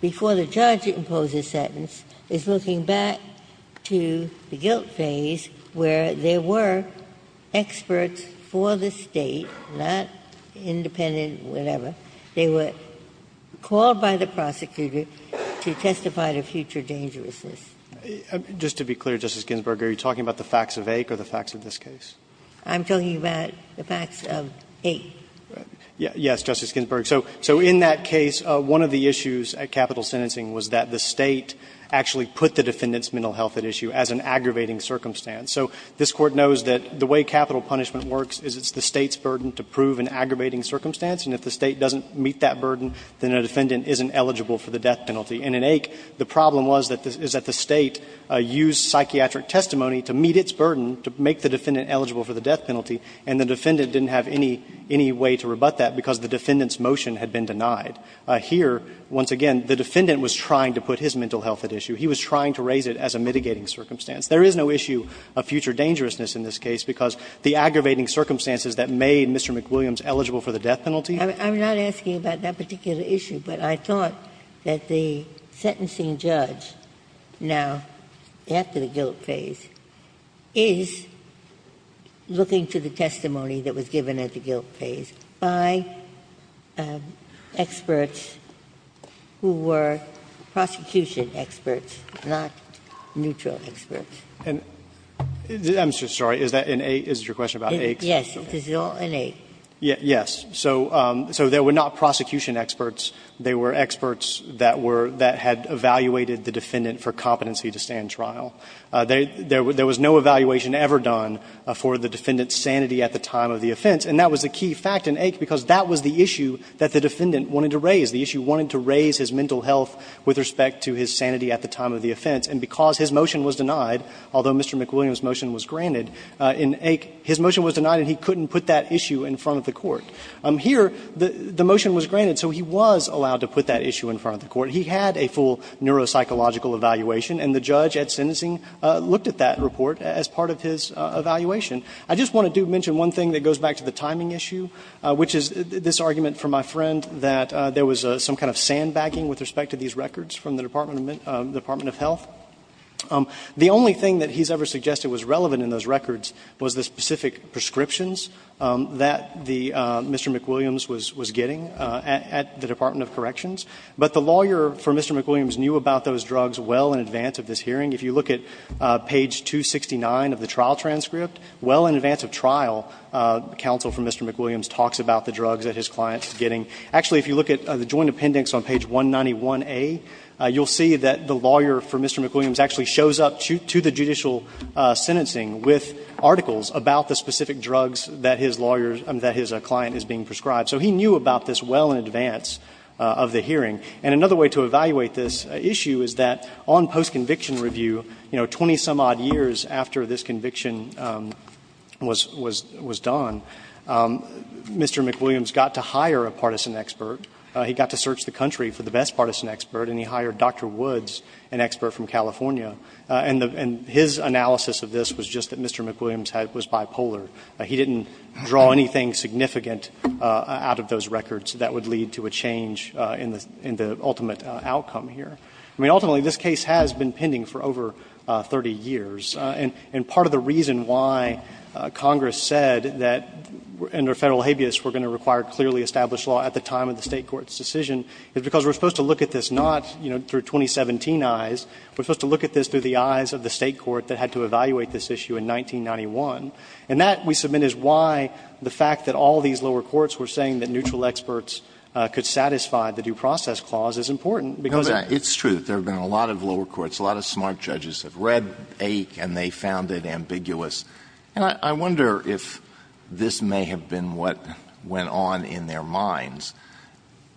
before the judge imposes sentence, is looking back to the guilt phase where there were experts for the State, not independent whatever, they were called by the prosecutor to testify to future dangerousness. Just to be clear, Justice Ginsburg, are you talking about the facts of Aik or the facts of this case? I'm talking about the facts of Aik. Yes, Justice Ginsburg. So in that case, one of the issues at capital sentencing was that the State actually put the defendant's mental health at issue as an aggravating circumstance. So this Court knows that the way capital punishment works is it's the State's burden to prove an aggravating circumstance, and if the State doesn't meet that burden, then a defendant isn't eligible for the death penalty. And in Aik, the problem was that the State used psychiatric testimony to meet its burden, to make the defendant eligible for the death penalty, and the defendant didn't have any way to rebut that because the defendant's motion had been denied. Here, once again, the defendant was trying to put his mental health at issue. He was trying to raise it as a mitigating circumstance. There is no issue of future dangerousness in this case because the aggravating circumstances that made Mr. McWilliams eligible for the death penalty. I'm not asking about that particular issue, but I thought that the sentencing judge now, after the guilt phase, is looking to the testimony that was given at the time of the offense, not neutral experts. And I'm sorry, is that in Aik? Is it your question about Aik's? Yes, it is all in Aik. Yes. So there were not prosecution experts. They were experts that were that had evaluated the defendant for competency to stand trial. There was no evaluation ever done for the defendant's sanity at the time of the offense, and because his motion was denied, although Mr. McWilliams' motion was granted, in Aik, his motion was denied and he couldn't put that issue in front of the court. Here, the motion was granted, so he was allowed to put that issue in front of the court. He had a full neuropsychological evaluation, and the judge at sentencing looked at that report as part of his evaluation. I just want to do mention one thing that goes back to the timing issue, which is this case, my friend, that there was some kind of sandbagging with respect to these records from the Department of Health. The only thing that he's ever suggested was relevant in those records was the specific prescriptions that the Mr. McWilliams was getting at the Department of Corrections. But the lawyer for Mr. McWilliams knew about those drugs well in advance of this hearing. If you look at page 269 of the trial transcript, well in advance of trial, counsel for Mr. McWilliams talks about the drugs that his client is getting. Actually, if you look at the joint appendix on page 191A, you'll see that the lawyer for Mr. McWilliams actually shows up to the judicial sentencing with articles about the specific drugs that his lawyer's or that his client is being prescribed. So he knew about this well in advance of the hearing. And another way to evaluate this issue is that on postconviction review, you know, 20-some-odd years after this conviction was done, Mr. McWilliams got to hire a partisan expert, he got to search the country for the best partisan expert, and he hired Dr. Woods, an expert from California. And his analysis of this was just that Mr. McWilliams was bipolar. He didn't draw anything significant out of those records that would lead to a change in the ultimate outcome here. I mean, ultimately, this case has been pending for over 30 years. And part of the reason why Congress said that under Federal habeas we're going to require clearly established law at the time of the State court's decision is because we're supposed to look at this not, you know, through 2017 eyes. We're supposed to look at this through the eyes of the State court that had to evaluate this issue in 1991. And that, we submit, is why the fact that all these lower courts were saying that neutral experts could satisfy the due process clause is important, because it's true that there have been a lot of lower courts, a lot of smart judges have read AIC and they found it ambiguous. And I wonder if this may have been what went on in their minds.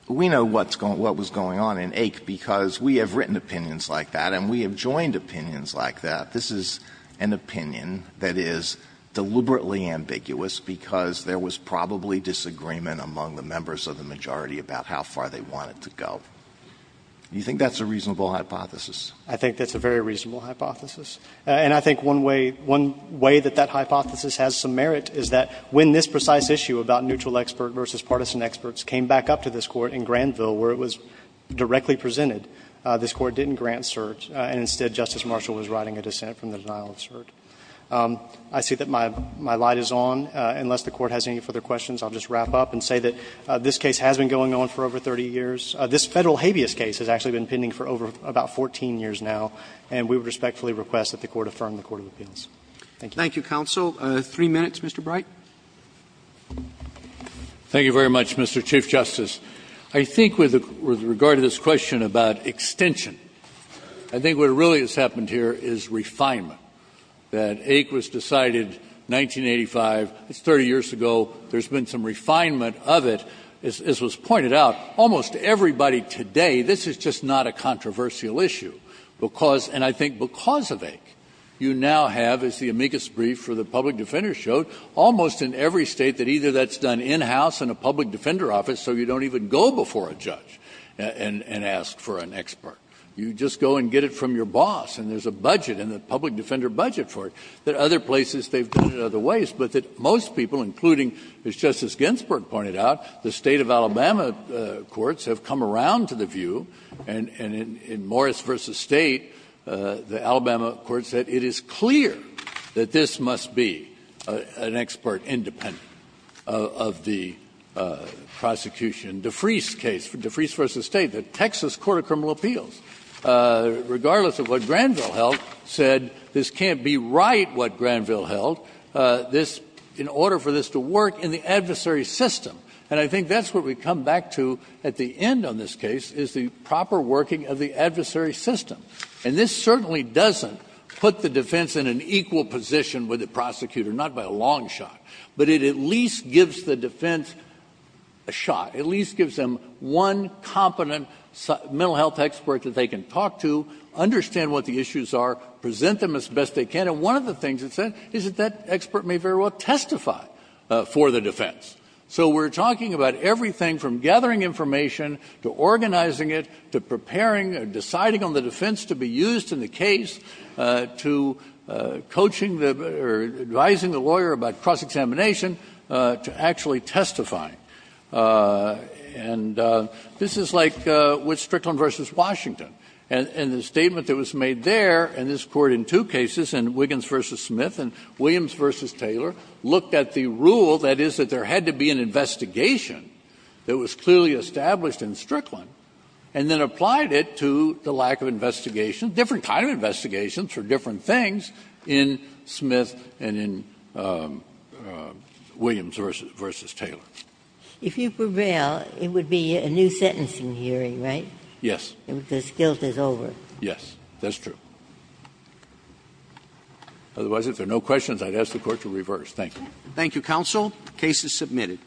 We know what was going on in AIC because we have written opinions like that and we have joined opinions like that. This is an opinion that is deliberately ambiguous because there was probably disagreement among the members of the majority about how far they wanted to go. Do you think that's a reasonable hypothesis? I think that's a very reasonable hypothesis. And I think one way, one way that that hypothesis has some merit is that when this precise issue about neutral expert versus partisan experts came back up to this Court in Granville where it was directly presented, this Court didn't grant cert and instead Justice Marshall was writing a dissent from the denial of cert. I see that my light is on. Unless the Court has any further questions, I'll just wrap up and say that this case has been going on for over 30 years. This Federal habeas case has actually been pending for over about 14 years now and we would respectfully request that the Court affirm the court of appeals. Thank you. Thank you, counsel. Three minutes, Mr. Bright. Thank you very much, Mr. Chief Justice. I think with regard to this question about extension, I think what really has happened here is refinement, that AIC was decided 1985, it's 30 years ago, there's been some refinement, and everybody today, this is just not a controversial issue. Because, and I think because of AIC, you now have, as the amicus brief for the public defender showed, almost in every State that either that's done in-house in a public defender office so you don't even go before a judge and ask for an expert. You just go and get it from your boss and there's a budget and a public defender budget for it. There are other places they've done it other ways, but that most people, including, as Justice Ginsburg pointed out, the State of Alabama courts have come around to the view, and in Morris v. State, the Alabama court said it is clear that this must be an expert independent of the prosecution. DeFries' case, DeFries v. State, the Texas Court of Criminal Appeals, regardless of what Granville held, said this can't be right, what Granville held, this, in order for this to work in the adversary system. And I think that's what we come back to at the end on this case, is the proper working of the adversary system. And this certainly doesn't put the defense in an equal position with the prosecutor, not by a long shot. But it at least gives the defense a shot. It at least gives them one competent mental health expert that they can talk to, understand what the issues are, present them as best they can. And one of the things it said is that that expert may very well testify for the defense. So we're talking about everything from gathering information, to organizing it, to preparing or deciding on the defense to be used in the case, to coaching the, or advising the lawyer about cross-examination, to actually testifying. And this is like with Strickland v. Washington. And the statement that was made there, and this Court in two cases, in Wiggins v. Smith and Williams v. Taylor, looked at the rule, that is, that there had to be an investigation that was clearly established in Strickland, and then applied it to the lack of investigation, different kind of investigations for different things, in Smith and in Williams v. Taylor. Ginsburg. If you prevail, it would be a new sentencing hearing, right? Yes. Because guilt is over. Yes, that's true. Otherwise, if there are no questions, I'd ask the Court to reverse. Thank you. Thank you, counsel. Case is submitted.